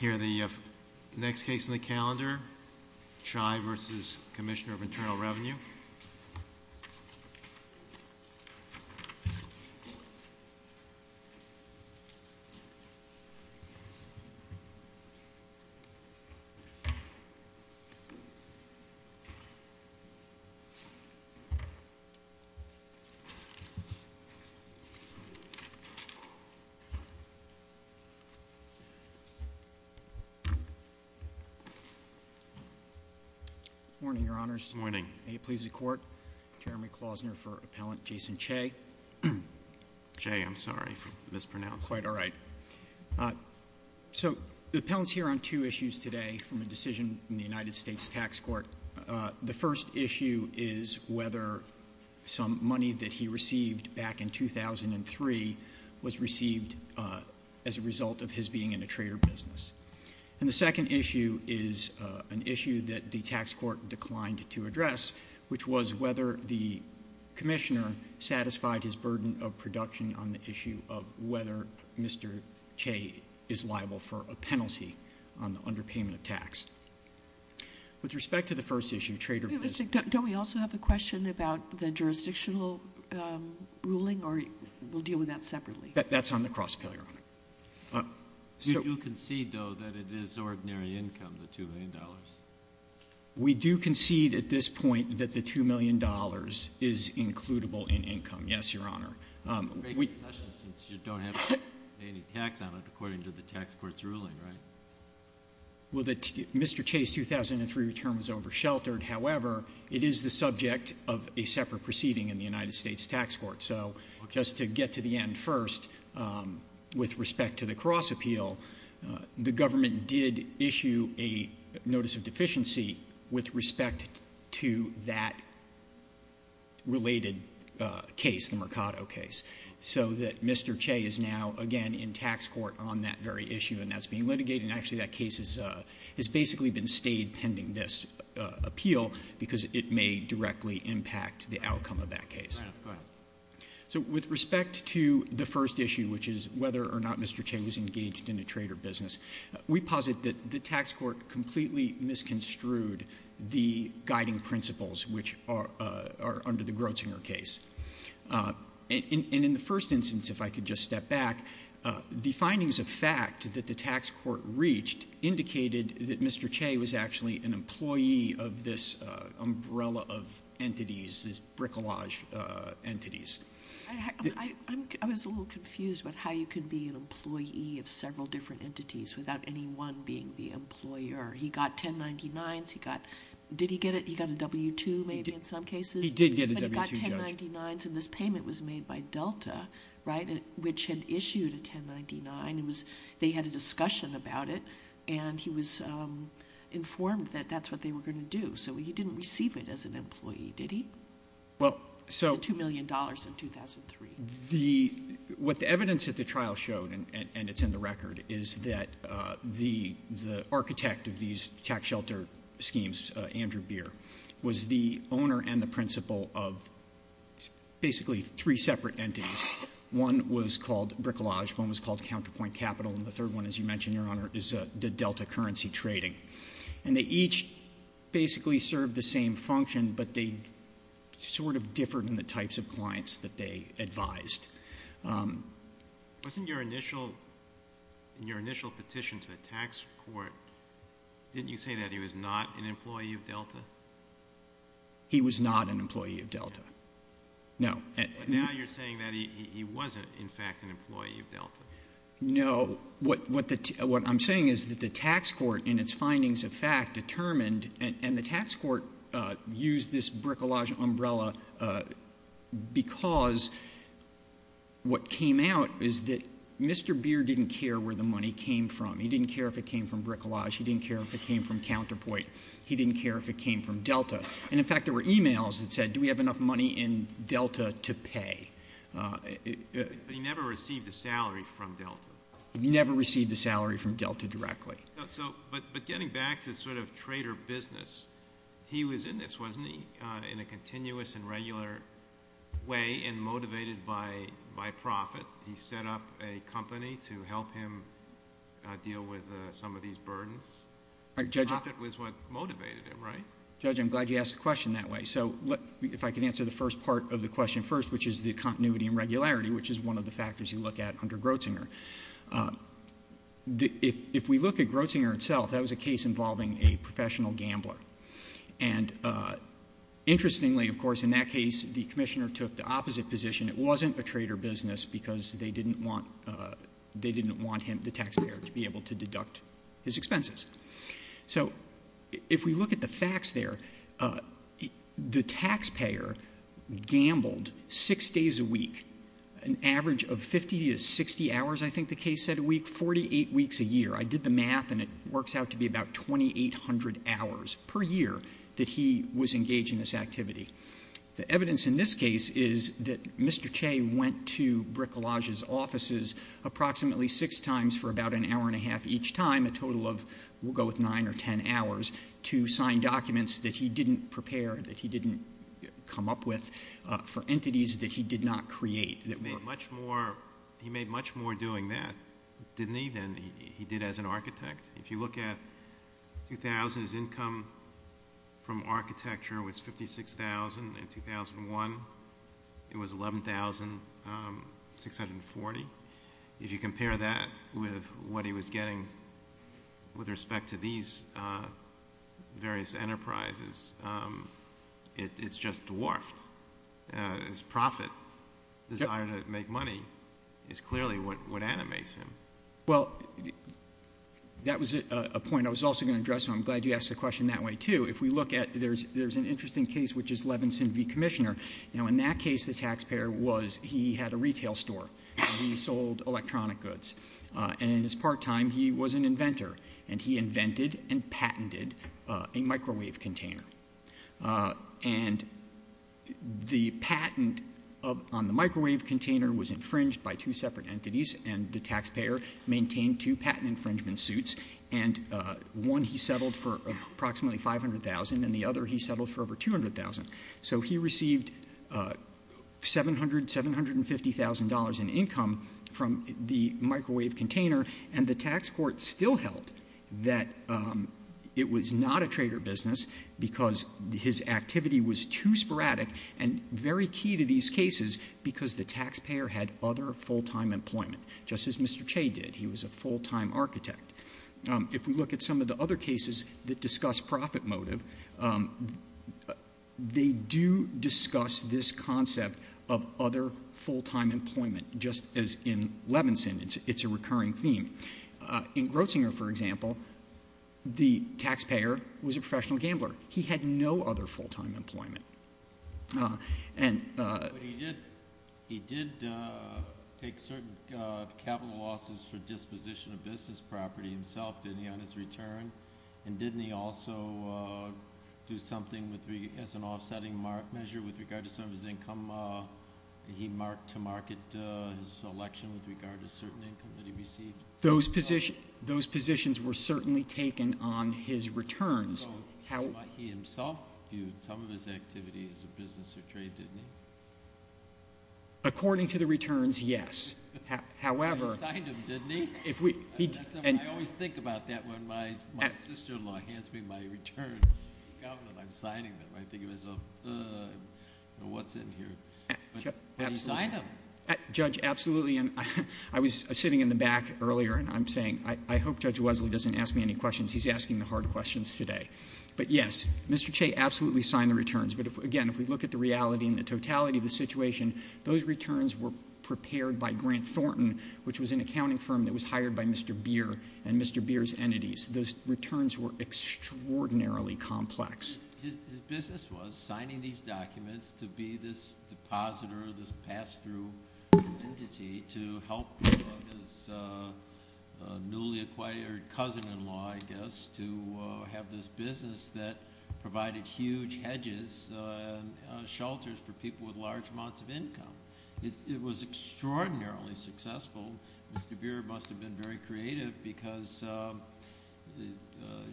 Here are the next case in the calendar, Chai v. Commissioner of Internal Revenue. Morning, Your Honors. Morning. May it please the Court, Jeremy Klausner for Appellant Jason Chai. Chai, I'm sorry, mispronounced. Quite all right. So the Appellant's here on two issues today from a decision in the United States Tax Court. The first issue is whether some money that he received back in 2003 was received as a result of his being in a trader business. And the second issue is an issue that the Tax Court declined to address, which was whether the Commissioner satisfied his burden of production on the issue of whether Mr. Chai is liable for a penalty on the underpayment of tax. With respect to the first issue, Trader Business Don't we also have a question about the jurisdictional ruling, or we'll deal with that separately? That's on the cross-pillar, Your Honor. We do concede, though, that it is ordinary income, the $2 million. We do concede at this point that the $2 million is includable in income, yes, Your Honor. Great concession since you don't have to pay any tax on it according to the Tax Court's ruling, right? Well, Mr. Chai's 2003 return was oversheltered. However, it is the subject of a separate proceeding in the United States Tax Court. So just to get to the end first, with respect to the cross appeal, the government did issue a notice of deficiency with respect to that related case, the Mercado case, so that Mr. Chai is now, again, in tax court on that very issue and that's being litigated. Actually, that case has basically been stayed pending this appeal because it may directly impact the outcome of that case. Right. Go ahead. So with respect to the first issue, which is whether or not Mr. Chai was engaged in a trader business, we posit that the Tax Court completely misconstrued the guiding principles which are under the Grotzinger case. And in the first instance, if I could just step back, the findings of fact that the Tax Court reached indicated that Mr. Chai was actually an employee of this umbrella of entities, these bricolage entities. I was a little confused about how you could be an employee of several different entities without anyone being the employer. He got 1099s. Did he get it? He got a W-2 maybe in some cases? He did get a W-2, Judge. He got 1099s and this payment was made by Delta, right, which had issued a 1099. They had a discussion about it and he was informed that that's what they were going to do. So he didn't receive it as an employee, did he? Well, so- The $2 million in 2003. What the evidence at the trial showed, and it's in the record, is that the architect of these tax shelter schemes, Andrew Beer, was the owner and the principal of basically three separate entities. One was called bricolage, one was called counterpoint capital, and the third one, as you mentioned, Your Honor, is the Delta currency trading. And they each basically served the same function, but they sort of differed in the types of clients that they advised. Wasn't your initial petition to the tax court, didn't you say that he was not an employee of Delta? He was not an employee of Delta. No. But now you're saying that he wasn't, in fact, an employee of Delta. No. What I'm saying is that the tax court in its findings of fact determined, and the tax court used this bricolage umbrella because what came out is that Mr. Beer didn't care where the money came from. He didn't care if it came from bricolage. He didn't care if it came from counterpoint. He didn't care if it came from Delta. And, in fact, there were e-mails that said, do we have enough money in Delta to pay? But he never received a salary from Delta. Never received a salary from Delta directly. But getting back to sort of trader business, he was in this, wasn't he, in a continuous and regular way and motivated by profit. He set up a company to help him deal with some of these burdens. Profit was what motivated him, right? Judge, I'm glad you asked the question that way. So if I could answer the first part of the question first, which is the continuity and regularity, which is one of the factors you look at under Grotzinger. If we look at Grotzinger itself, that was a case involving a professional gambler. And, interestingly, of course, in that case, the commissioner took the opposite position. It wasn't a trader business because they didn't want him, the taxpayer, to be able to deduct his expenses. So if we look at the facts there, the taxpayer gambled six days a week, an average of 50 to 60 hours, I think the case said, a week, 48 weeks a year. I did the math, and it works out to be about 2,800 hours per year that he was engaged in this activity. The evidence in this case is that Mr. Che went to Bricolage's offices approximately six times for about an hour and a half each time, a total of, we'll go with nine or ten hours, to sign documents that he didn't prepare, that he didn't come up with for entities that he did not create. He made much more doing that, didn't he, than he did as an architect? If you look at 2000, his income from architecture was $56,000. In 2001, it was $11,640. If you compare that with what he was getting with respect to these various enterprises, it's just dwarfed. His profit, his desire to make money, is clearly what animates him. Well, that was a point I was also going to address, and I'm glad you asked the question that way, too. If we look at, there's an interesting case, which is Levinson v. Commissioner. Now, in that case, the taxpayer was, he had a retail store, and he sold electronic goods. And in his part time, he was an inventor, and he invented and patented a microwave container. And the patent on the microwave container was infringed by two separate entities, and the taxpayer maintained two patent infringement suits. And one he settled for approximately $500,000, and the other he settled for over $200,000. So he received $750,000 in income from the microwave container, and the tax court still held that it was not a trader business, because his activity was too sporadic and very key to these cases, because the taxpayer had other full-time employment, just as Mr. Che did. He was a full-time architect. If we look at some of the other cases that discuss profit motive, they do discuss this concept of other full-time employment, just as in Levinson. It's a recurring theme. In Grossinger, for example, the taxpayer was a professional gambler. He had no other full-time employment. But he did take certain capital losses for disposition of business property himself, didn't he, on his return? And didn't he also do something as an offsetting mark measure with regard to some of his income? He marked to market his election with regard to certain income that he received? Those positions were certainly taken on his returns. So he himself viewed some of his activity as a business or trade, didn't he? According to the returns, yes. He signed them, didn't he? I always think about that when my sister-in-law hands me my return. I'm signing them. I think of myself, what's in here? But he signed them. Judge, absolutely. I was sitting in the back earlier, and I'm saying I hope Judge Wesley doesn't ask me any questions. He's asking the hard questions today. But, yes, Mr. Che absolutely signed the returns. But, again, if we look at the reality and the totality of the situation, those returns were prepared by Grant Thornton, which was an accounting firm that was hired by Mr. Beer and Mr. Beer's entities. Those returns were extraordinarily complex. His business was signing these documents to be this depositor, this pass-through entity, to help his newly acquired cousin-in-law, I guess, to have this business that provided huge hedges and shelters for people with large amounts of income. It was extraordinarily successful. Mr. Beer must have been very creative because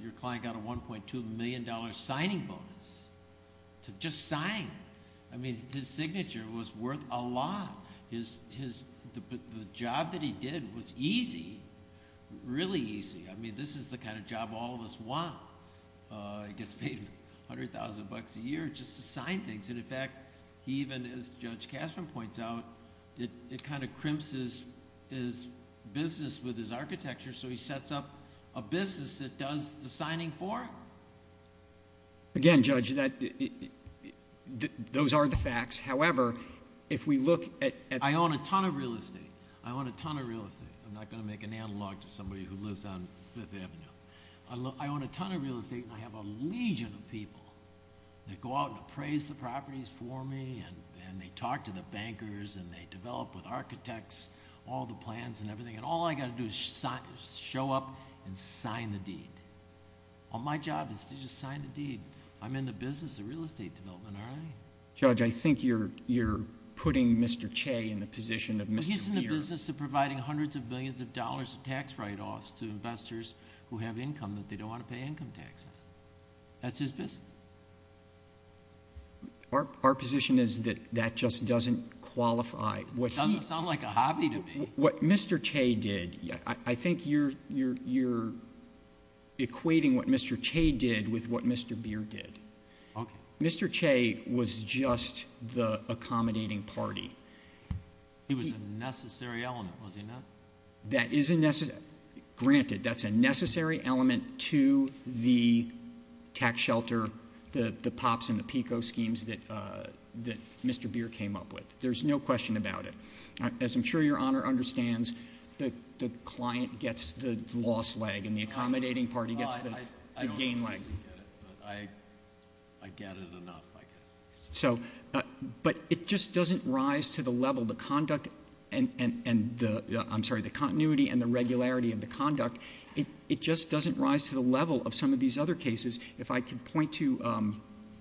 your client got a $1.2 million signing bonus to just sign. I mean, his signature was worth a lot. The job that he did was easy, really easy. I mean, this is the kind of job all of us want. He gets paid $100,000 a year just to sign things. And, in fact, he even, as Judge Kasman points out, it kind of crimps his business with his architecture, so he sets up a business that does the signing for him. Again, Judge, those are the facts. However, if we look at the real estate, I own a ton of real estate. I own a ton of real estate. I'm not going to make an analog to somebody who lives on Fifth Avenue. I own a ton of real estate, and I have a legion of people that go out and appraise the properties for me, and they talk to the bankers, and they develop with architects all the plans and everything, and all I've got to do is show up and sign the deed. My job is to just sign the deed. I'm in the business of real estate development, aren't I? Judge, I think you're putting Mr. Che in the position of Mr. Beer. I'm in the business of providing hundreds of billions of dollars of tax write-offs to investors who have income that they don't want to pay income tax on. That's his business. Our position is that that just doesn't qualify. It doesn't sound like a hobby to me. What Mr. Che did, I think you're equating what Mr. Che did with what Mr. Beer did. Okay. Mr. Che was just the accommodating party. He was a necessary element, was he not? That is a necessary element. Granted, that's a necessary element to the tax shelter, the POPs and the PICO schemes that Mr. Beer came up with. There's no question about it. As I'm sure Your Honor understands, the client gets the loss leg and the accommodating party gets the gain leg. I don't completely get it, but I get it enough, I guess. It just doesn't rise to the level, the continuity and the regularity of the conduct. It just doesn't rise to the level of some of these other cases, if I could point to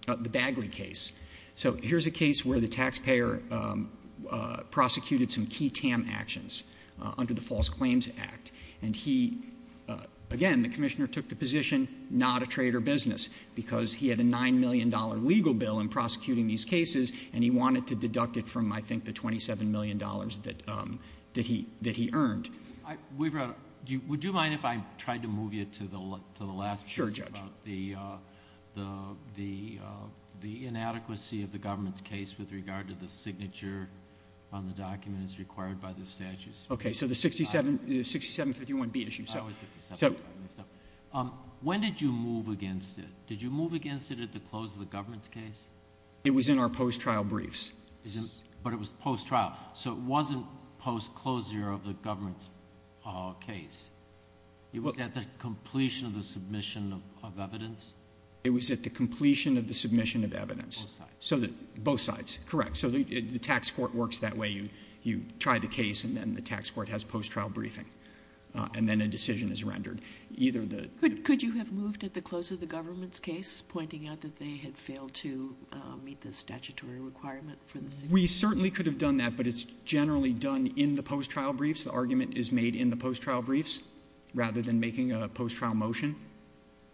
the Bagley case. Here's a case where the taxpayer prosecuted some key TAM actions under the False Claims Act. Again, the commissioner took the position, not a trade or business, because he had a $9 million legal bill in prosecuting these cases, and he wanted to deduct it from, I think, the $27 million that he earned. Would you mind if I tried to move you to the last piece? Sure, Judge. The inadequacy of the government's case with regard to the signature on the document is required by the statutes. Okay, so the 6751B issue. When did you move against it? Did you move against it at the close of the government's case? It was in our post-trial briefs. But it was post-trial, so it wasn't post-closure of the government's case. It was at the completion of the submission of evidence? It was at the completion of the submission of evidence. Both sides. Both sides, correct. So the tax court works that way. You try the case, and then the tax court has post-trial briefing, and then a decision is rendered. Could you have moved at the close of the government's case, pointing out that they had failed to meet the statutory requirement for the signature? We certainly could have done that, but it's generally done in the post-trial briefs. The argument is made in the post-trial briefs rather than making a post-trial motion.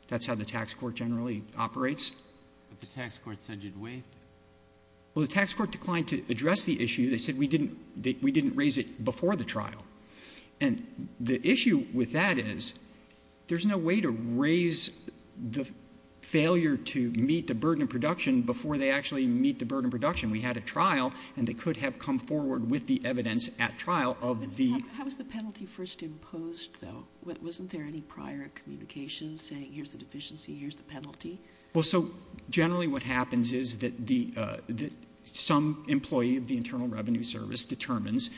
That's how the tax court generally operates. But the tax court said you'd waived it. Well, the tax court declined to address the issue. They said we didn't raise it before the trial. And the issue with that is there's no way to raise the failure to meet the burden of production before they actually meet the burden of production. We had a trial, and they could have come forward with the evidence at trial of the ---- How was the penalty first imposed, though? Wasn't there any prior communication saying here's the deficiency, here's the penalty? Well, so generally what happens is that some employee of the Internal Revenue Service determines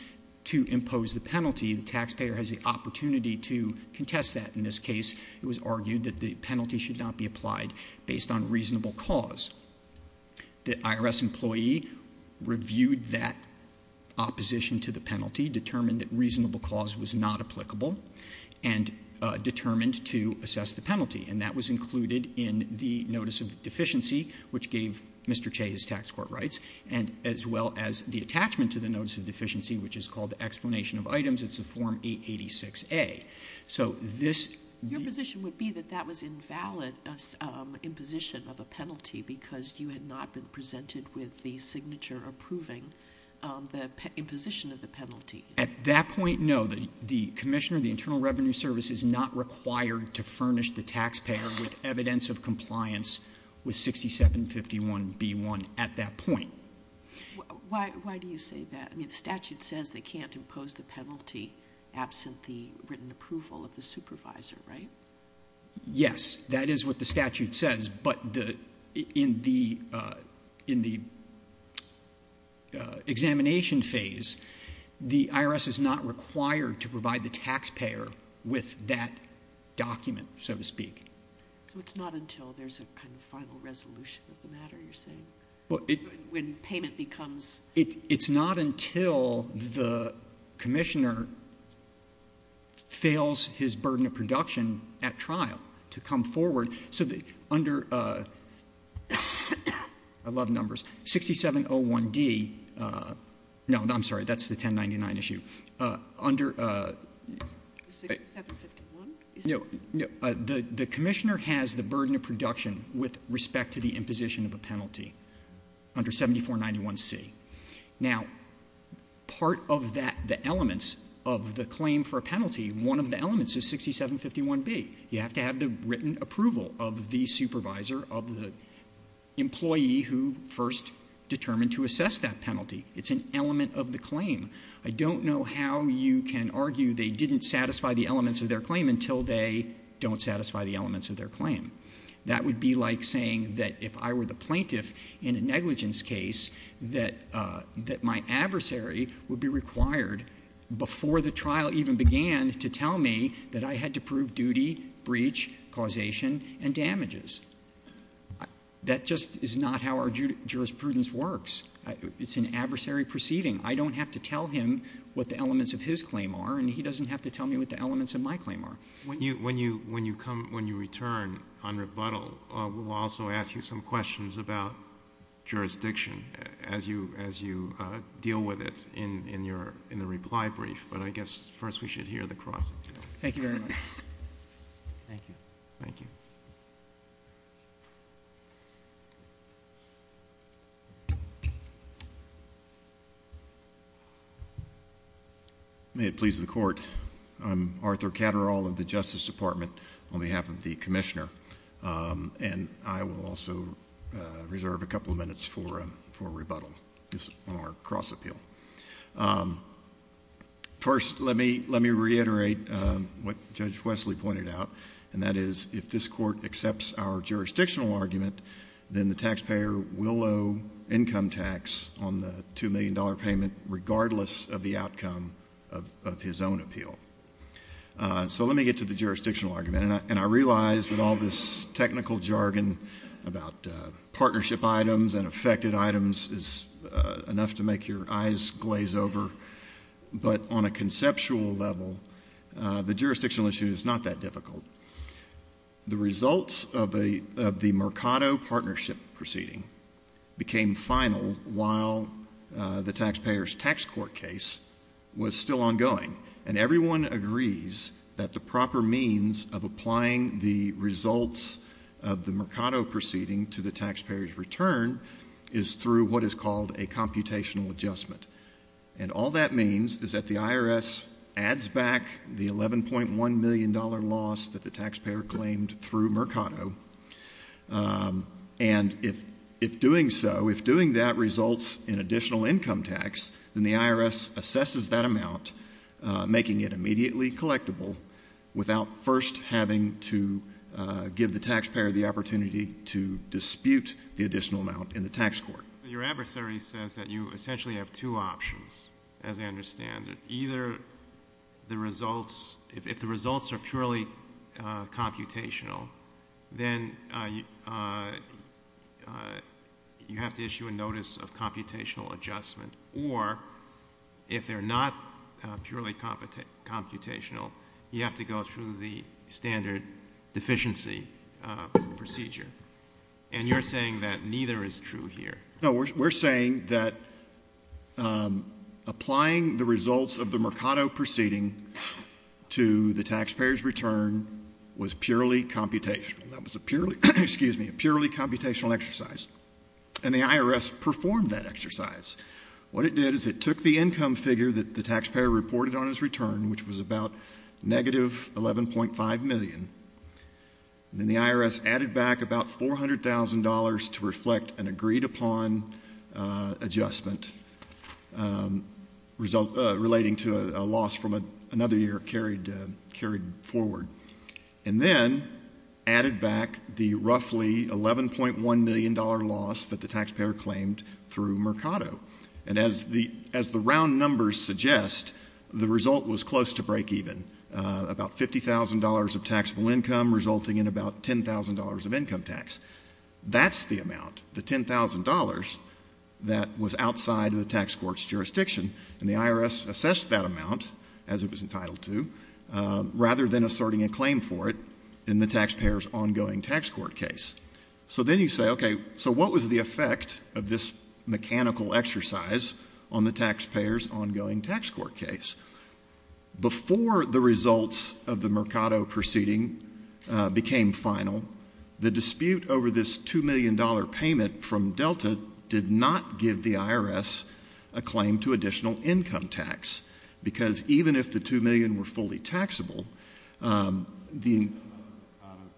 to impose the penalty. The taxpayer has the opportunity to contest that in this case. It was argued that the penalty should not be applied based on reasonable cause. The IRS employee reviewed that opposition to the penalty, determined that reasonable cause was not applicable, and determined to assess the penalty. And that was included in the Notice of Deficiency, which gave Mr. Che his tax court rights, as well as the attachment to the Notice of Deficiency, which is called the Explanation of Items. It's the Form 886A. So this ---- Your position would be that that was invalid imposition of a penalty because you had not been presented with the signature approving the imposition of the penalty. At that point, no. The Commissioner of the Internal Revenue Service is not required to furnish the taxpayer with evidence of compliance with 6751B1 at that point. Why do you say that? I mean, the statute says they can't impose the penalty absent the written approval of the supervisor, right? Yes. That is what the statute says. But in the examination phase, the IRS is not required to provide the taxpayer with that document, so to speak. So it's not until there's a kind of final resolution of the matter, you're saying? When payment becomes ---- It's not until the Commissioner fails his burden of production at trial to come forward so that under ---- I love numbers. 6701D ---- No, I'm sorry. That's the 1099 issue. Under ---- 6751? No. The Commissioner has the burden of production with respect to the imposition of a penalty under 7491C. Now, part of that, the elements of the claim for a penalty, one of the elements is 6751B. You have to have the written approval of the supervisor, of the employee who first determined to assess that penalty. It's an element of the claim. I don't know how you can argue they didn't satisfy the elements of their claim until they don't satisfy the elements of their claim. That would be like saying that if I were the plaintiff in a negligence case, that my adversary would be required before the trial even began to tell me that I had to prove duty, breach, causation, and damages. That just is not how our jurisprudence works. It's an adversary proceeding. I don't have to tell him what the elements of his claim are, and he doesn't have to tell me what the elements of my claim are. When you return on rebuttal, we'll also ask you some questions about jurisdiction as you deal with it in the reply brief. But I guess first we should hear the cross-examination. Thank you very much. Thank you. Thank you. May it please the Court. I'm Arthur Catterall of the Justice Department on behalf of the Commissioner, and I will also reserve a couple of minutes for rebuttal on our cross-appeal. First, let me reiterate what Judge Wesley pointed out, and that is if this Court accepts our jurisdictional argument, then the taxpayer will owe income tax on the $2 million payment regardless of the outcome of his own appeal. So let me get to the jurisdictional argument. And I realize that all this technical jargon about partnership items and affected items is enough to make your eyes glaze over. But on a conceptual level, the jurisdictional issue is not that difficult. The results of the Mercado partnership proceeding became final while the taxpayer's tax court case was still ongoing. And everyone agrees that the proper means of applying the results of the Mercado proceeding to the taxpayer's return is through what is called a computational adjustment. And all that means is that the IRS adds back the $11.1 million loss that the taxpayer claimed through Mercado. And if doing so, if doing that results in additional income tax, then the IRS assesses that amount, making it immediately collectible, without first having to give the taxpayer the opportunity to dispute the additional amount in the tax court. Your adversary says that you essentially have two options, as I understand it. Either the results, if the results are purely computational, then you have to issue a notice of computational adjustment. Or if they're not purely computational, you have to go through the standard deficiency procedure. And you're saying that neither is true here. No, we're saying that applying the results of the Mercado proceeding to the taxpayer's return was purely computational. That was a purely computational exercise. And the IRS performed that exercise. What it did is it took the income figure that the taxpayer reported on his return, which was about negative $11.5 million, and then the IRS added back about $400,000 to reflect an agreed-upon adjustment relating to a loss from another year carried forward. And then added back the roughly $11.1 million loss that the taxpayer claimed through Mercado. And as the round numbers suggest, the result was close to breakeven. About $50,000 of taxable income resulting in about $10,000 of income tax. That's the amount, the $10,000, that was outside of the tax court's jurisdiction. And the IRS assessed that amount, as it was entitled to, rather than asserting a claim for it in the taxpayer's ongoing tax court case. So then you say, okay, so what was the effect of this mechanical exercise on the taxpayer's ongoing tax court case? Before the results of the Mercado proceeding became final, the dispute over this $2 million payment from Delta did not give the IRS a claim to additional income tax. Because even if the $2 million were fully taxable, the — The Mercado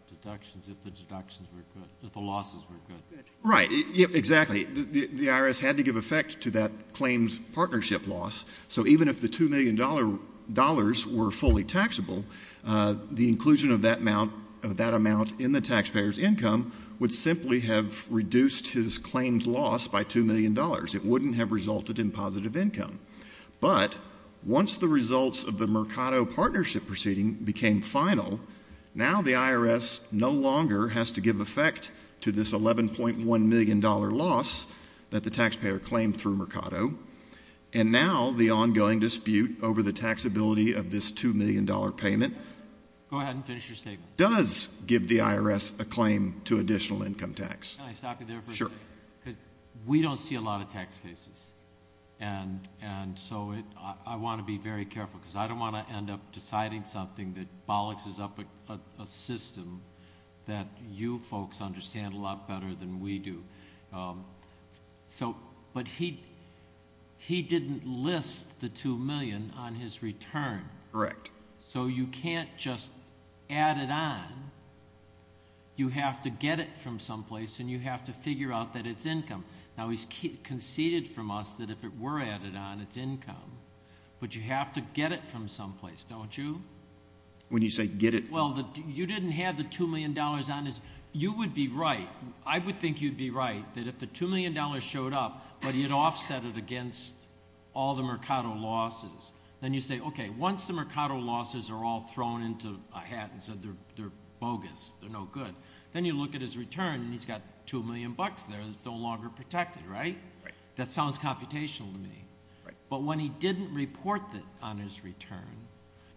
deductions, if the deductions were good, if the losses were good. Right. Exactly. The IRS had to give effect to that claimed partnership loss. So even if the $2 million were fully taxable, the inclusion of that amount in the taxpayer's income would simply have reduced his claimed loss by $2 million. It wouldn't have resulted in positive income. But once the results of the Mercado partnership proceeding became final, now the IRS no longer has to give effect to this $11.1 million loss that the taxpayer claimed through Mercado. And now the ongoing dispute over the taxability of this $2 million payment — Go ahead and finish your statement. — does give the IRS a claim to additional income tax. Can I stop you there for a second? Sure. Because we don't see a lot of tax cases. And so I want to be very careful because I don't want to end up deciding something that bollocks us up a system that you folks understand a lot better than we do. But he didn't list the $2 million on his return. Correct. So you can't just add it on. You have to get it from someplace, and you have to figure out that it's income. Now he's conceded from us that if it were added on, it's income. But you have to get it from someplace, don't you? When you say get it from — Well, you didn't have the $2 million on. You would be right. I would think you'd be right that if the $2 million showed up, but he had offset it against all the Mercado losses, then you say, okay, once the Mercado losses are all thrown into a hat and said they're bogus, they're no good, then you look at his return, and he's got $2 million there that's no longer protected, right? Right. That sounds computational to me. Right. But when he didn't report that on his return,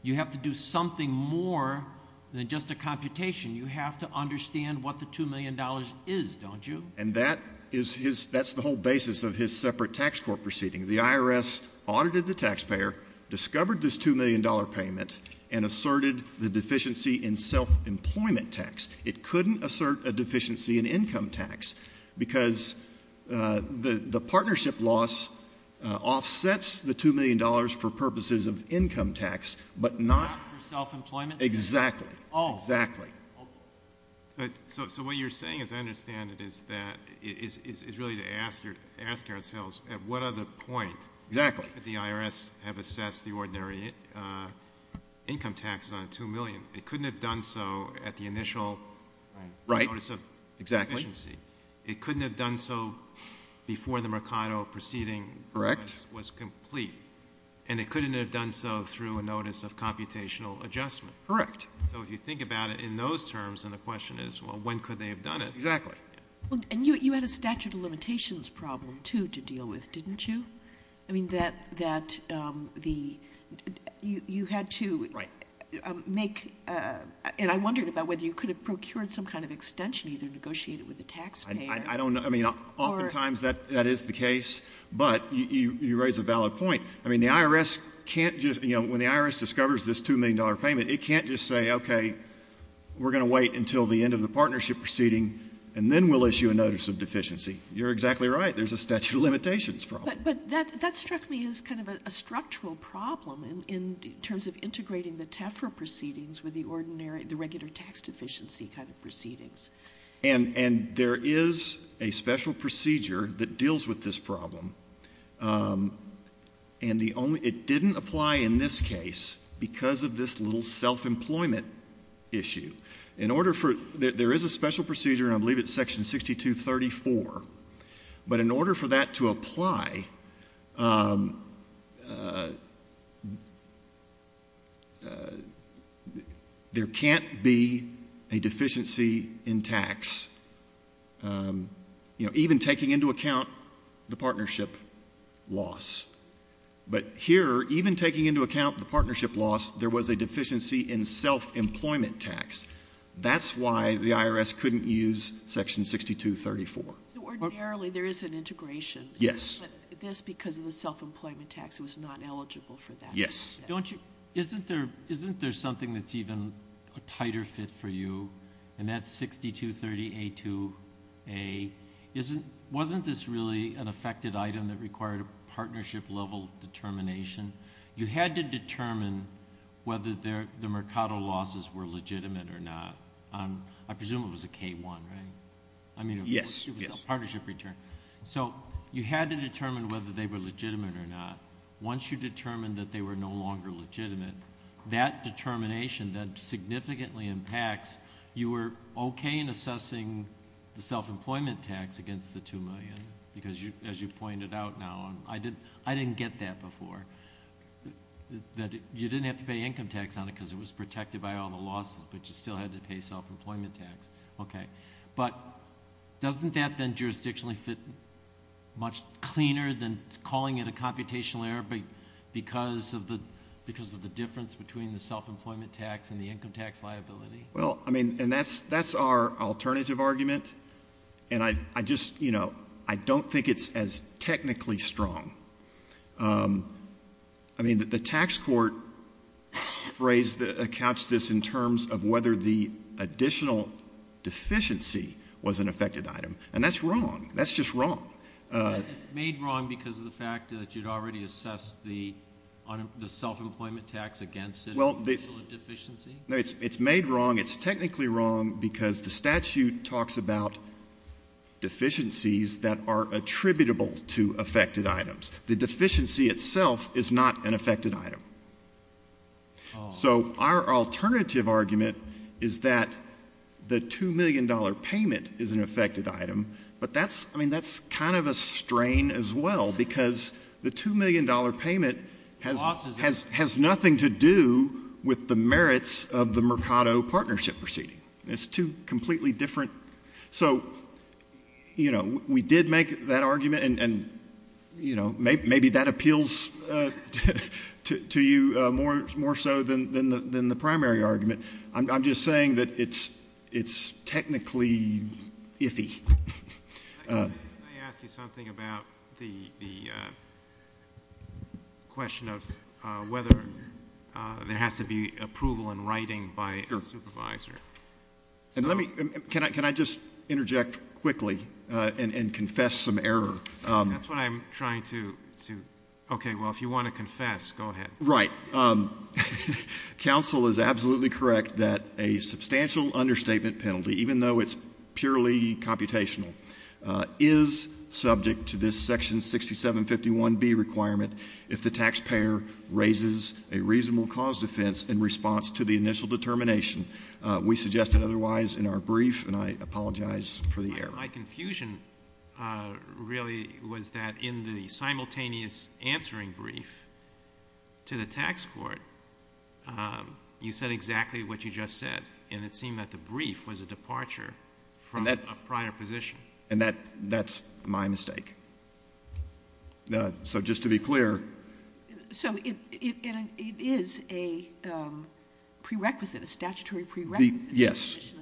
you have to do something more than just a computation. You have to understand what the $2 million is, don't you? And that is his — that's the whole basis of his separate tax court proceeding. The IRS audited the taxpayer, discovered this $2 million payment, and asserted the deficiency in self-employment tax. It couldn't assert a deficiency in income tax because the partnership loss offsets the $2 million for purposes of income tax, but not — Not for self-employment? Exactly. Oh. Exactly. So what you're saying, as I understand it, is that — is really to ask ourselves, at what other point — Exactly. — did the IRS have assessed the ordinary income taxes on $2 million? It couldn't have done so at the initial notice of deficiency. Right. Exactly. It couldn't have done so before the Mercado proceeding — Correct. — was complete, and it couldn't have done so through a notice of computational adjustment. Correct. So if you think about it in those terms, then the question is, well, when could they have done it? Exactly. And you had a statute of limitations problem, too, to deal with, didn't you? I mean, that the — you had to — Right. — make — and I wondered about whether you could have procured some kind of extension, either negotiated with the taxpayer — I don't — I mean, oftentimes that is the case, but you raise a valid point. I mean, the IRS can't just — you know, when the IRS discovers this $2 million payment, it can't just say, okay, we're going to wait until the end of the partnership proceeding, and then we'll issue a notice of deficiency. You're exactly right. There's a statute of limitations problem. But that struck me as kind of a structural problem in terms of integrating the TEFRA proceedings And there is a special procedure that deals with this problem. And the only — it didn't apply in this case because of this little self-employment issue. In order for — there is a special procedure, and I believe it's Section 6234. But in order for that to apply, there can't be a deficiency in tax, even taking into account the partnership loss. But here, even taking into account the partnership loss, there was a deficiency in self-employment tax. That's why the IRS couldn't use Section 6234. Ordinarily, there is an integration. Yes. But this, because of the self-employment tax, was not eligible for that. Yes. Isn't there something that's even a tighter fit for you? And that's 6230A2A. Wasn't this really an affected item that required a partnership-level determination? You had to determine whether the Mercado losses were legitimate or not. I presume it was a K-1, right? Yes. I mean, it was a partnership return. So you had to determine whether they were legitimate or not. Once you determined that they were no longer legitimate, that determination, that significantly impacts — you were okay in assessing the self-employment tax against the $2 million because, as you pointed out now, I didn't get that before. You didn't have to pay income tax on it because it was protected by all the losses, but you still had to pay self-employment tax. Okay. But doesn't that then jurisdictionally fit much cleaner than calling it a computational error because of the difference between the self-employment tax and the income tax liability? Well, I mean, and that's our alternative argument, and I just, you know, I don't think it's as technically strong. I mean, the tax court phrase that accounts this in terms of whether the additional deficiency was an affected item, and that's wrong. That's just wrong. It's made wrong because of the fact that you'd already assessed the self-employment tax against it as an additional deficiency? No, it's made wrong. It's technically wrong because the statute talks about deficiencies that are attributable to affected items. The deficiency itself is not an affected item. Oh. So our alternative argument is that the $2 million payment is an affected item, but that's — I mean, that's kind of a strain as well because the $2 million payment has — Losses. — has nothing to do with the merits of the Mercado partnership proceeding. It's two completely different — so, you know, we did make that argument, and, you know, maybe that appeals to you more so than the primary argument. I'm just saying that it's technically iffy. Can I ask you something about the question of whether there has to be approval in writing by a supervisor? Sure. And let me — can I just interject quickly and confess some error? That's what I'm trying to — okay, well, if you want to confess, go ahead. Right. Counsel is absolutely correct that a substantial understatement penalty, even though it's purely computational, is subject to this section 6751B requirement if the taxpayer raises a reasonable cause defense in response to the initial determination. We suggested otherwise in our brief, and I apologize for the error. My confusion really was that in the simultaneous answering brief to the tax court, you said exactly what you just said, and it seemed that the brief was a departure from a prior position. And that's my mistake. So just to be clear — So it is a prerequisite, a statutory prerequisite — Yes.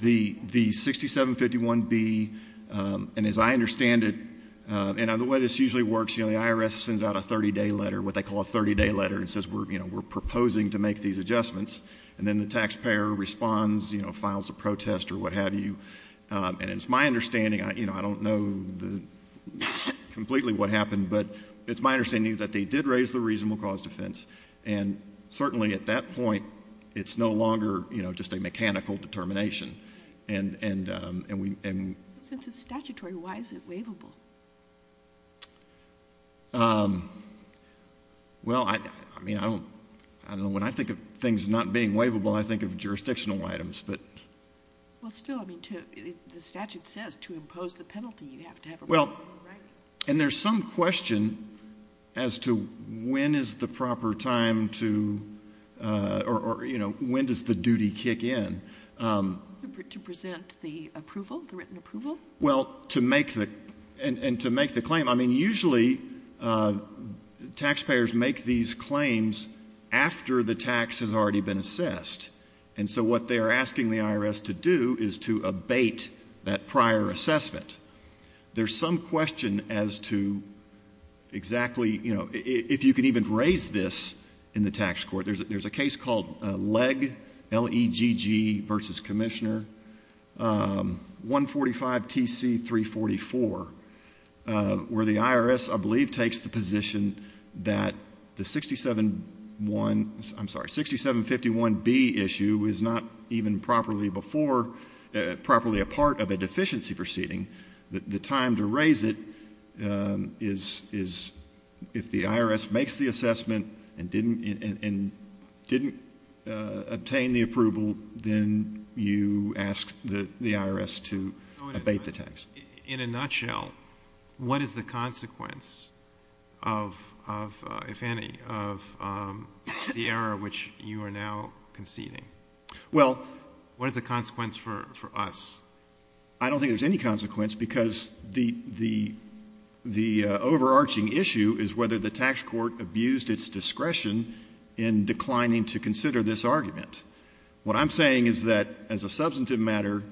The 6751B, and as I understand it, and the way this usually works, the IRS sends out a 30-day letter, what they call a 30-day letter, and says we're proposing to make these adjustments, and then the taxpayer responds, files a protest or what have you. And it's my understanding — I don't know completely what happened, but it's my understanding that they did raise the reasonable cause defense, and certainly at that point it's no longer just a mechanical determination. And we — Since it's statutory, why is it waivable? Well, I mean, I don't know. When I think of things not being waivable, I think of jurisdictional items, but — Well, still, I mean, the statute says to impose the penalty, you have to have a reasonable right. And there's some question as to when is the proper time to — or, you know, when does the duty kick in? To present the approval, the written approval? Well, to make the — and to make the claim. I mean, usually taxpayers make these claims after the tax has already been assessed. And so what they are asking the IRS to do is to abate that prior assessment. There's some question as to exactly, you know, if you can even raise this in the tax court. There's a case called Legg, L-E-G-G, v. Commissioner, 145 T.C. 344, where the IRS, I believe, takes the position that the 6751B issue is not even properly before — the time to raise it is if the IRS makes the assessment and didn't obtain the approval, then you ask the IRS to abate the tax. In a nutshell, what is the consequence of, if any, of the error which you are now conceding? Well — What is the consequence for us? I don't think there's any consequence because the overarching issue is whether the tax court abused its discretion in declining to consider this argument. What I'm saying is that, as a substantive matter,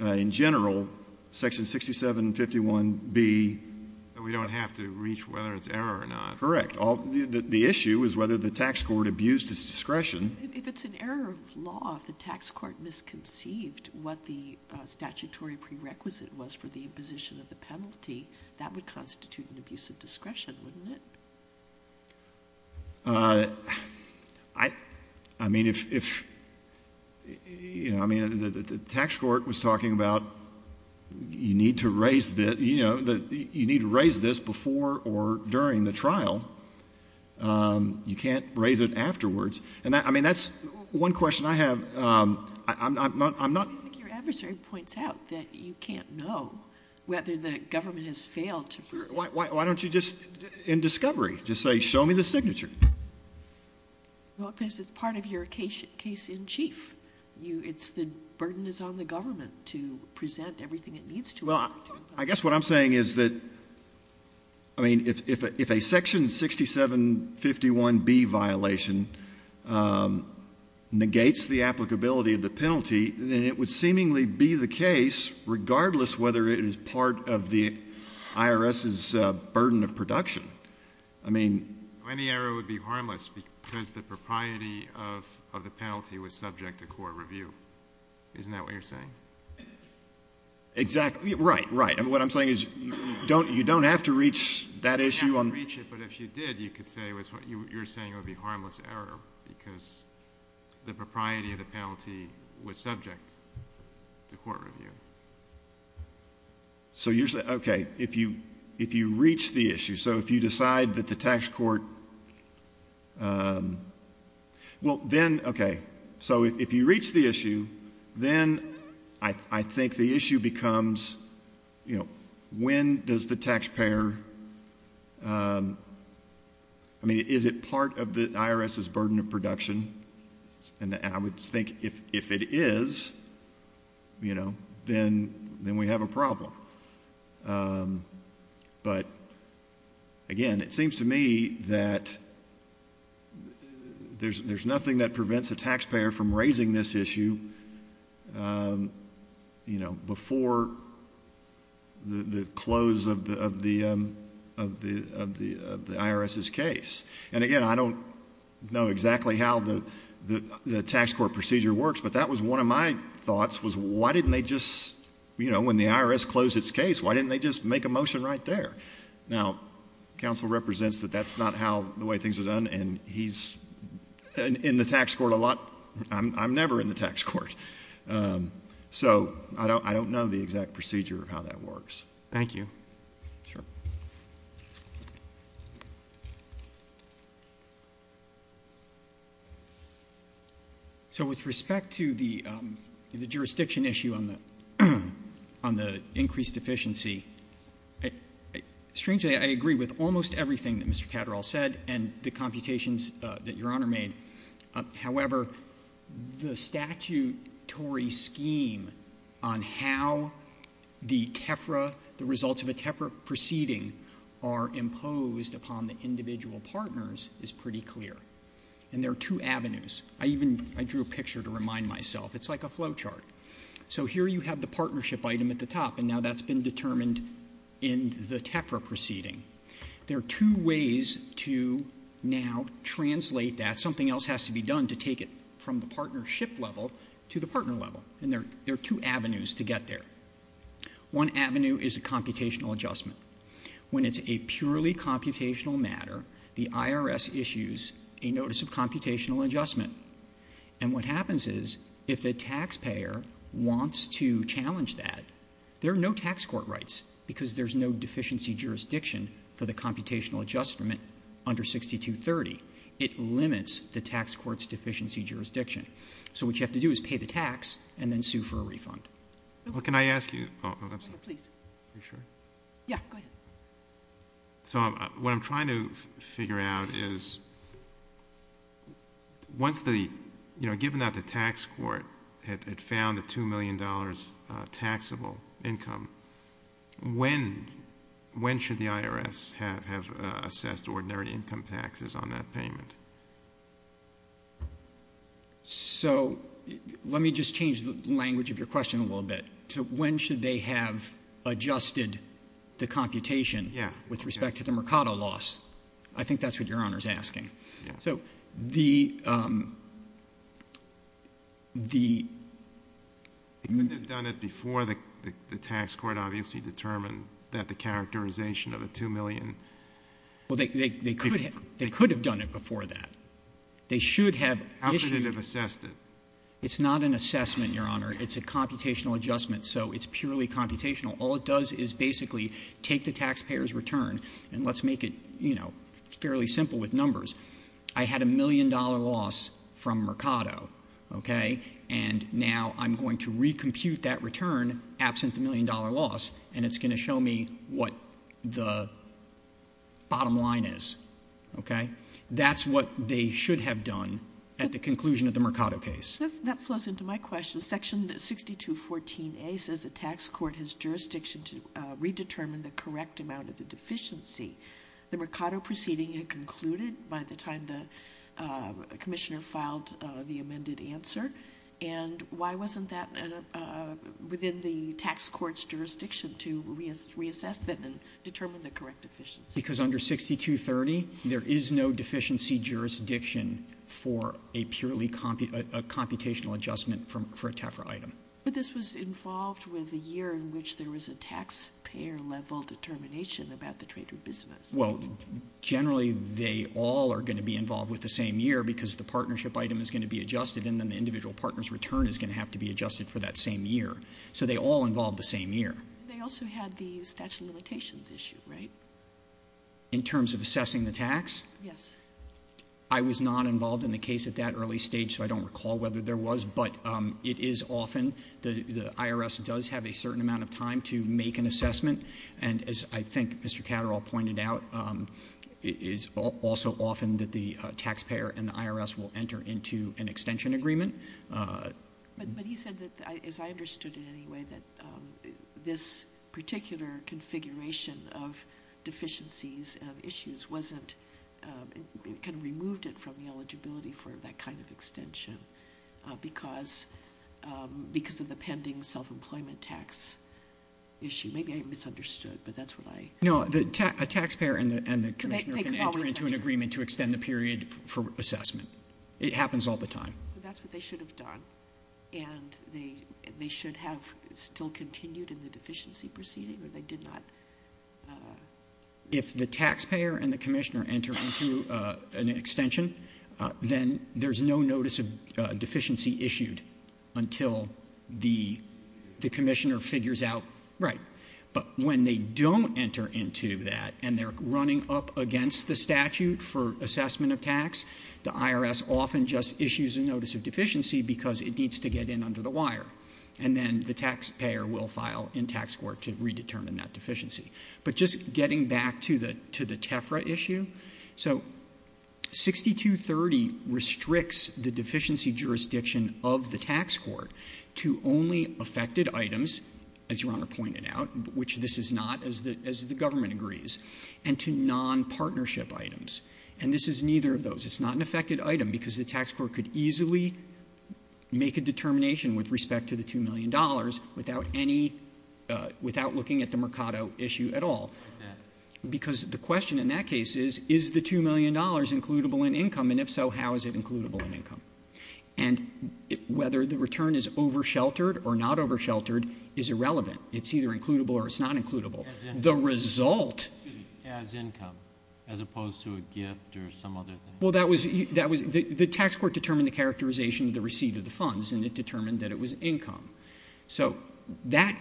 in general, Section 6751B — So we don't have to reach whether it's error or not. Correct. The issue is whether the tax court abused its discretion. If it's an error of law, if the tax court misconceived what the statutory prerequisite was for the imposition of the penalty, that would constitute an abuse of discretion, wouldn't it? I mean, if — you know, I mean, the tax court was talking about you need to raise this before or during the trial. You can't raise it afterwards. And, I mean, that's one question I have. I'm not — I think your adversary points out that you can't know whether the government has failed to present — Sure. Why don't you just, in discovery, just say, show me the signature? Well, because it's part of your case in chief. It's the burden is on the government to present everything it needs to. Well, I guess what I'm saying is that, I mean, if a Section 6751B violation negates the applicability of the penalty, then it would seemingly be the case, regardless whether it is part of the IRS's burden of production. I mean — So any error would be harmless because the propriety of the penalty was subject to court review. Isn't that what you're saying? Exactly. Right, right. And what I'm saying is you don't have to reach that issue on — You don't have to reach it, but if you did, you could say what you're saying would be harmless error because the propriety of the penalty was subject to court review. So you're — okay. If you reach the issue, so if you decide that the tax court — well, then, okay. So if you reach the issue, then I think the issue becomes, you know, when does the taxpayer — I mean, is it part of the IRS's burden of production? And I would think if it is, you know, then we have a problem. But, again, it seems to me that there's nothing that prevents a taxpayer from raising this issue, you know, before the close of the IRS's case. And, again, I don't know exactly how the tax court procedure works, but that was one of my thoughts was why didn't they just — you know, when the IRS closed its case, why didn't they just make a motion right there? Now, counsel represents that that's not how — the way things are done, and he's in the tax court a lot. I'm never in the tax court. So I don't know the exact procedure of how that works. Thank you. Sure. Thank you. So with respect to the jurisdiction issue on the increased deficiency, strangely, I agree with almost everything that Mr. Catterall said and the computations that Your Honor made. However, the statutory scheme on how the TEFRA — the results of a TEFRA proceeding are imposed upon the individual partners is pretty clear. And there are two avenues. I even — I drew a picture to remind myself. It's like a flow chart. So here you have the partnership item at the top, and now that's been determined in the TEFRA proceeding. There are two ways to now translate that. Something else has to be done to take it from the partnership level to the partner level. And there are two avenues to get there. One avenue is a computational adjustment. When it's a purely computational matter, the IRS issues a notice of computational adjustment. And what happens is if the taxpayer wants to challenge that, there are no tax court rights because there's no deficiency jurisdiction for the computational adjustment under 6230. It limits the tax court's deficiency jurisdiction. So what you have to do is pay the tax and then sue for a refund. What can I ask you? Oh, I'm sorry. Please. Are you sure? Yeah, go ahead. So what I'm trying to figure out is once the — you know, given that the tax court had found the $2 million taxable income, when should the IRS have assessed ordinary income taxes on that payment? So let me just change the language of your question a little bit. When should they have adjusted the computation with respect to the Mercado loss? I think that's what Your Honor is asking. So the— They could have done it before the tax court obviously determined that the characterization of the $2 million— Well, they could have done it before that. They should have issued— How could it have assessed it? It's not an assessment, Your Honor. It's a computational adjustment, so it's purely computational. All it does is basically take the taxpayer's return, and let's make it, you know, fairly simple with numbers. I had a million-dollar loss from Mercado, okay? And now I'm going to recompute that return absent the million-dollar loss, and it's going to show me what the bottom line is, okay? That's what they should have done at the conclusion of the Mercado case. That flows into my question. Section 6214A says the tax court has jurisdiction to redetermine the correct amount of the deficiency. The Mercado proceeding had concluded by the time the commissioner filed the amended answer, and why wasn't that within the tax court's jurisdiction to reassess that and determine the correct deficiency? Because under 6230, there is no deficiency jurisdiction for a purely computational adjustment for a TEFRA item. But this was involved with the year in which there was a taxpayer-level determination about the trade or business. Well, generally, they all are going to be involved with the same year because the partnership item is going to be adjusted, and then the individual partner's return is going to have to be adjusted for that same year. So they all involved the same year. They also had the statute of limitations issue, right? In terms of assessing the tax? Yes. I was not involved in the case at that early stage, so I don't recall whether there was, but it is often the IRS does have a certain amount of time to make an assessment, and as I think Mr. Catterall pointed out, it is also often that the taxpayer and the IRS will enter into an extension agreement. But he said that, as I understood it anyway, that this particular configuration of deficiencies and issues kind of removed it from the eligibility for that kind of extension because of the pending self-employment tax issue. Maybe I misunderstood, but that's what I- No, a taxpayer and the commissioner can enter into an agreement to extend the period for assessment. It happens all the time. So that's what they should have done, and they should have still continued in the deficiency proceeding, or they did not- If the taxpayer and the commissioner enter into an extension, then there's no notice of deficiency issued until the commissioner figures out- Right. But when they don't enter into that and they're running up against the statute for assessment of tax, the IRS often just issues a notice of deficiency because it needs to get in under the wire, and then the taxpayer will file in tax court to redetermine that deficiency. But just getting back to the TEFRA issue, so 6230 restricts the deficiency jurisdiction of the tax court to only affected items, as Your Honor pointed out, which this is not, as the government agrees, and to non-partnership items. And this is neither of those. It's not an affected item because the tax court could easily make a determination with respect to the $2 million without any- without looking at the Mercado issue at all. Why is that? Because the question in that case is, is the $2 million includable in income? And if so, how is it includable in income? And whether the return is oversheltered or not oversheltered is irrelevant. It's either includable or it's not includable. As in- The result- Excuse me. As income, as opposed to a gift or some other thing? Well, that was- the tax court determined the characterization of the receipt of the funds, and it determined that it was income. So that-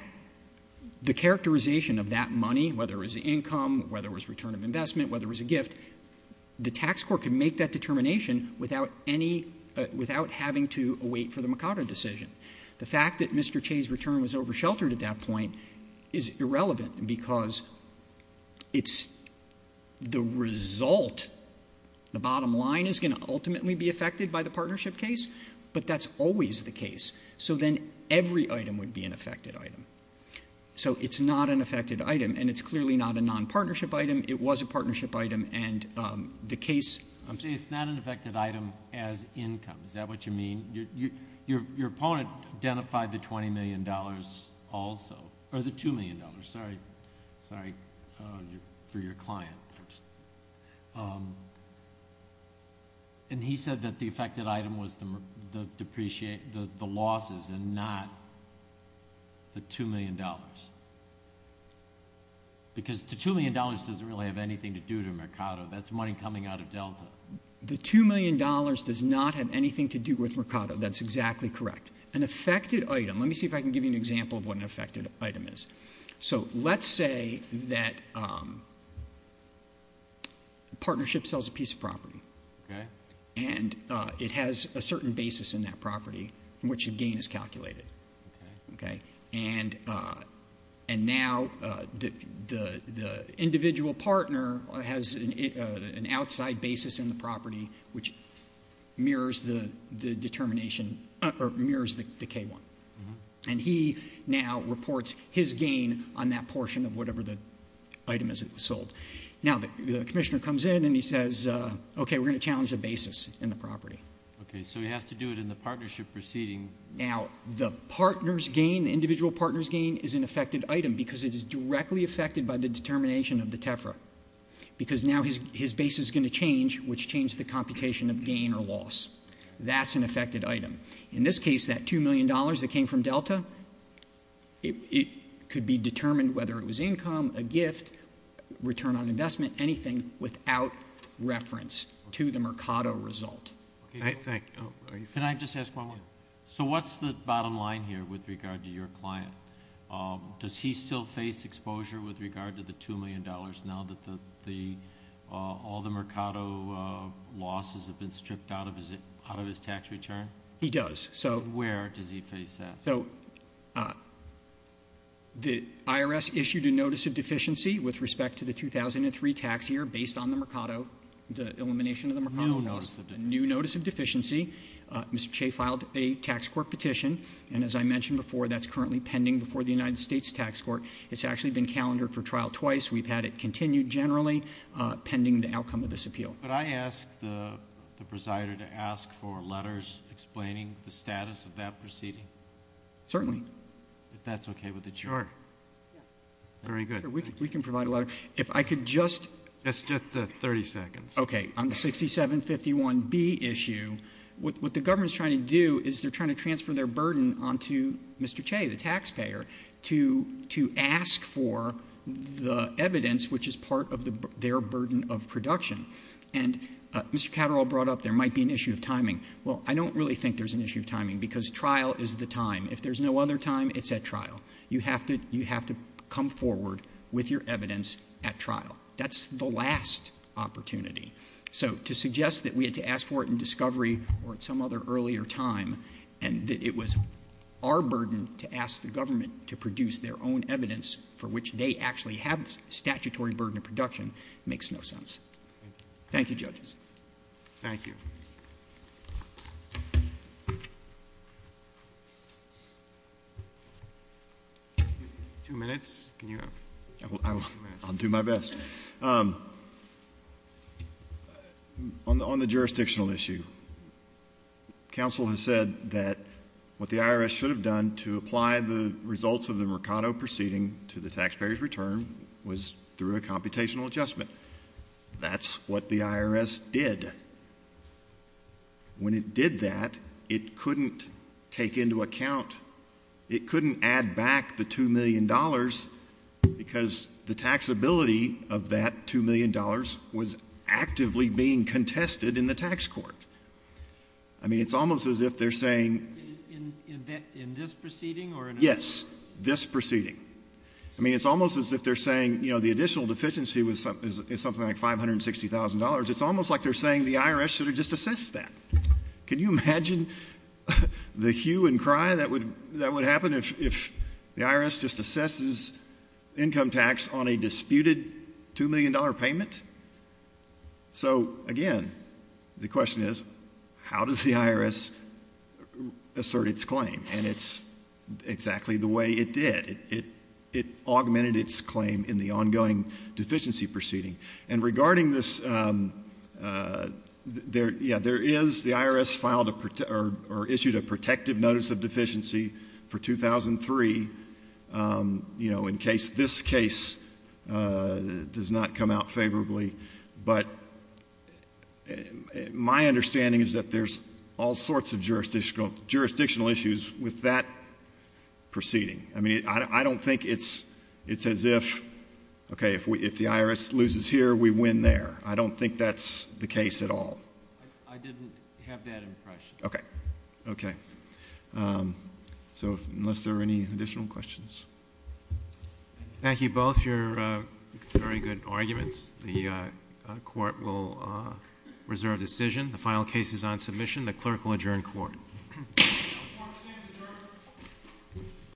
the characterization of that money, whether it was income, whether it was return of investment, whether it was a gift, the tax court can make that determination without any- without having to await for the Mercado decision. The fact that Mr. Che's return was oversheltered at that point is irrelevant because it's the result. The bottom line is going to ultimately be affected by the partnership case, but that's always the case. So then every item would be an affected item. So it's not an affected item, and it's clearly not a nonpartnership item. It was a partnership item, and the case- I'm saying it's not an affected item as income. Is that what you mean? Your opponent identified the $20 million also- or the $2 million. Sorry. Sorry for your client. And he said that the affected item was the losses and not the $2 million. Because the $2 million doesn't really have anything to do with Mercado. That's money coming out of Delta. The $2 million does not have anything to do with Mercado. That's exactly correct. An affected item- let me see if I can give you an example of what an affected item is. So let's say that a partnership sells a piece of property. And it has a certain basis in that property in which a gain is calculated. And now the individual partner has an outside basis in the property which mirrors the determination- mirrors the K-1. And he now reports his gain on that portion of whatever the item is that was sold. Now the commissioner comes in and he says, okay, we're going to challenge the basis in the property. Okay, so he has to do it in the partnership proceeding. Now the partner's gain, the individual partner's gain, is an affected item because it is directly affected by the determination of the TEFRA. Because now his basis is going to change, which changed the computation of gain or loss. That's an affected item. In this case, that $2 million that came from Delta, it could be determined whether it was income, a gift, return on investment, anything without reference to the Mercado result. Thank you. Can I just ask one more? So what's the bottom line here with regard to your client? Does he still face exposure with regard to the $2 million now that all the Mercado losses have been stripped out of his tax return? He does. Where does he face that? So the IRS issued a notice of deficiency with respect to the 2003 tax year based on the Mercado, the elimination of the Mercado loss. New notice of deficiency. New notice of deficiency. Mr. Che filed a tax court petition. And as I mentioned before, that's currently pending before the United States Tax Court. It's actually been calendared for trial twice. We've had it continued generally pending the outcome of this appeal. Could I ask the presider to ask for letters explaining the status of that proceeding? Certainly. If that's okay with the chair. Sure. Very good. We can provide a letter. If I could just. That's just 30 seconds. Okay. On the 6751B issue, what the government is trying to do is they're trying to transfer their burden onto Mr. Che, the taxpayer, to ask for the evidence which is part of their burden of production. And Mr. Catterall brought up there might be an issue of timing. Well, I don't really think there's an issue of timing because trial is the time. If there's no other time, it's at trial. You have to come forward with your evidence at trial. That's the last opportunity. So to suggest that we had to ask for it in discovery or at some other earlier time and that it was our burden to ask the government to produce their own evidence for which they actually have statutory burden of production makes no sense. Thank you, judges. Thank you. Two minutes. I'll do my best. On the jurisdictional issue, counsel has said that what the IRS should have done to apply the results of the Mercado proceeding to the taxpayer's return was through a computational adjustment. That's what the IRS did. When it did that, it couldn't take into account, it couldn't add back the $2 million because the taxability of that $2 million was actively being contested in the tax court. I mean, it's almost as if they're saying... In this proceeding or another? Yes, this proceeding. I mean, it's almost as if they're saying, you know, the additional deficiency is something like $560,000. It's almost like they're saying the IRS should have just assessed that. Can you imagine the hue and cry that would happen if the IRS just assesses income tax on a disputed $2 million payment? So, again, the question is, how does the IRS assert its claim? And it's exactly the way it did. It augmented its claim in the ongoing deficiency proceeding. And regarding this, yeah, there is the IRS filed or issued a protective notice of deficiency for 2003, you know, in case this case does not come out favorably. But my understanding is that there's all sorts of jurisdictional issues with that proceeding. I mean, I don't think it's as if, okay, if the IRS loses here, we win there. I don't think that's the case at all. I didn't have that impression. Okay. So unless there are any additional questions. Thank you both. You're very good arguments. The court will reserve decision. The final case is on submission. The clerk will adjourn court. Court is adjourned.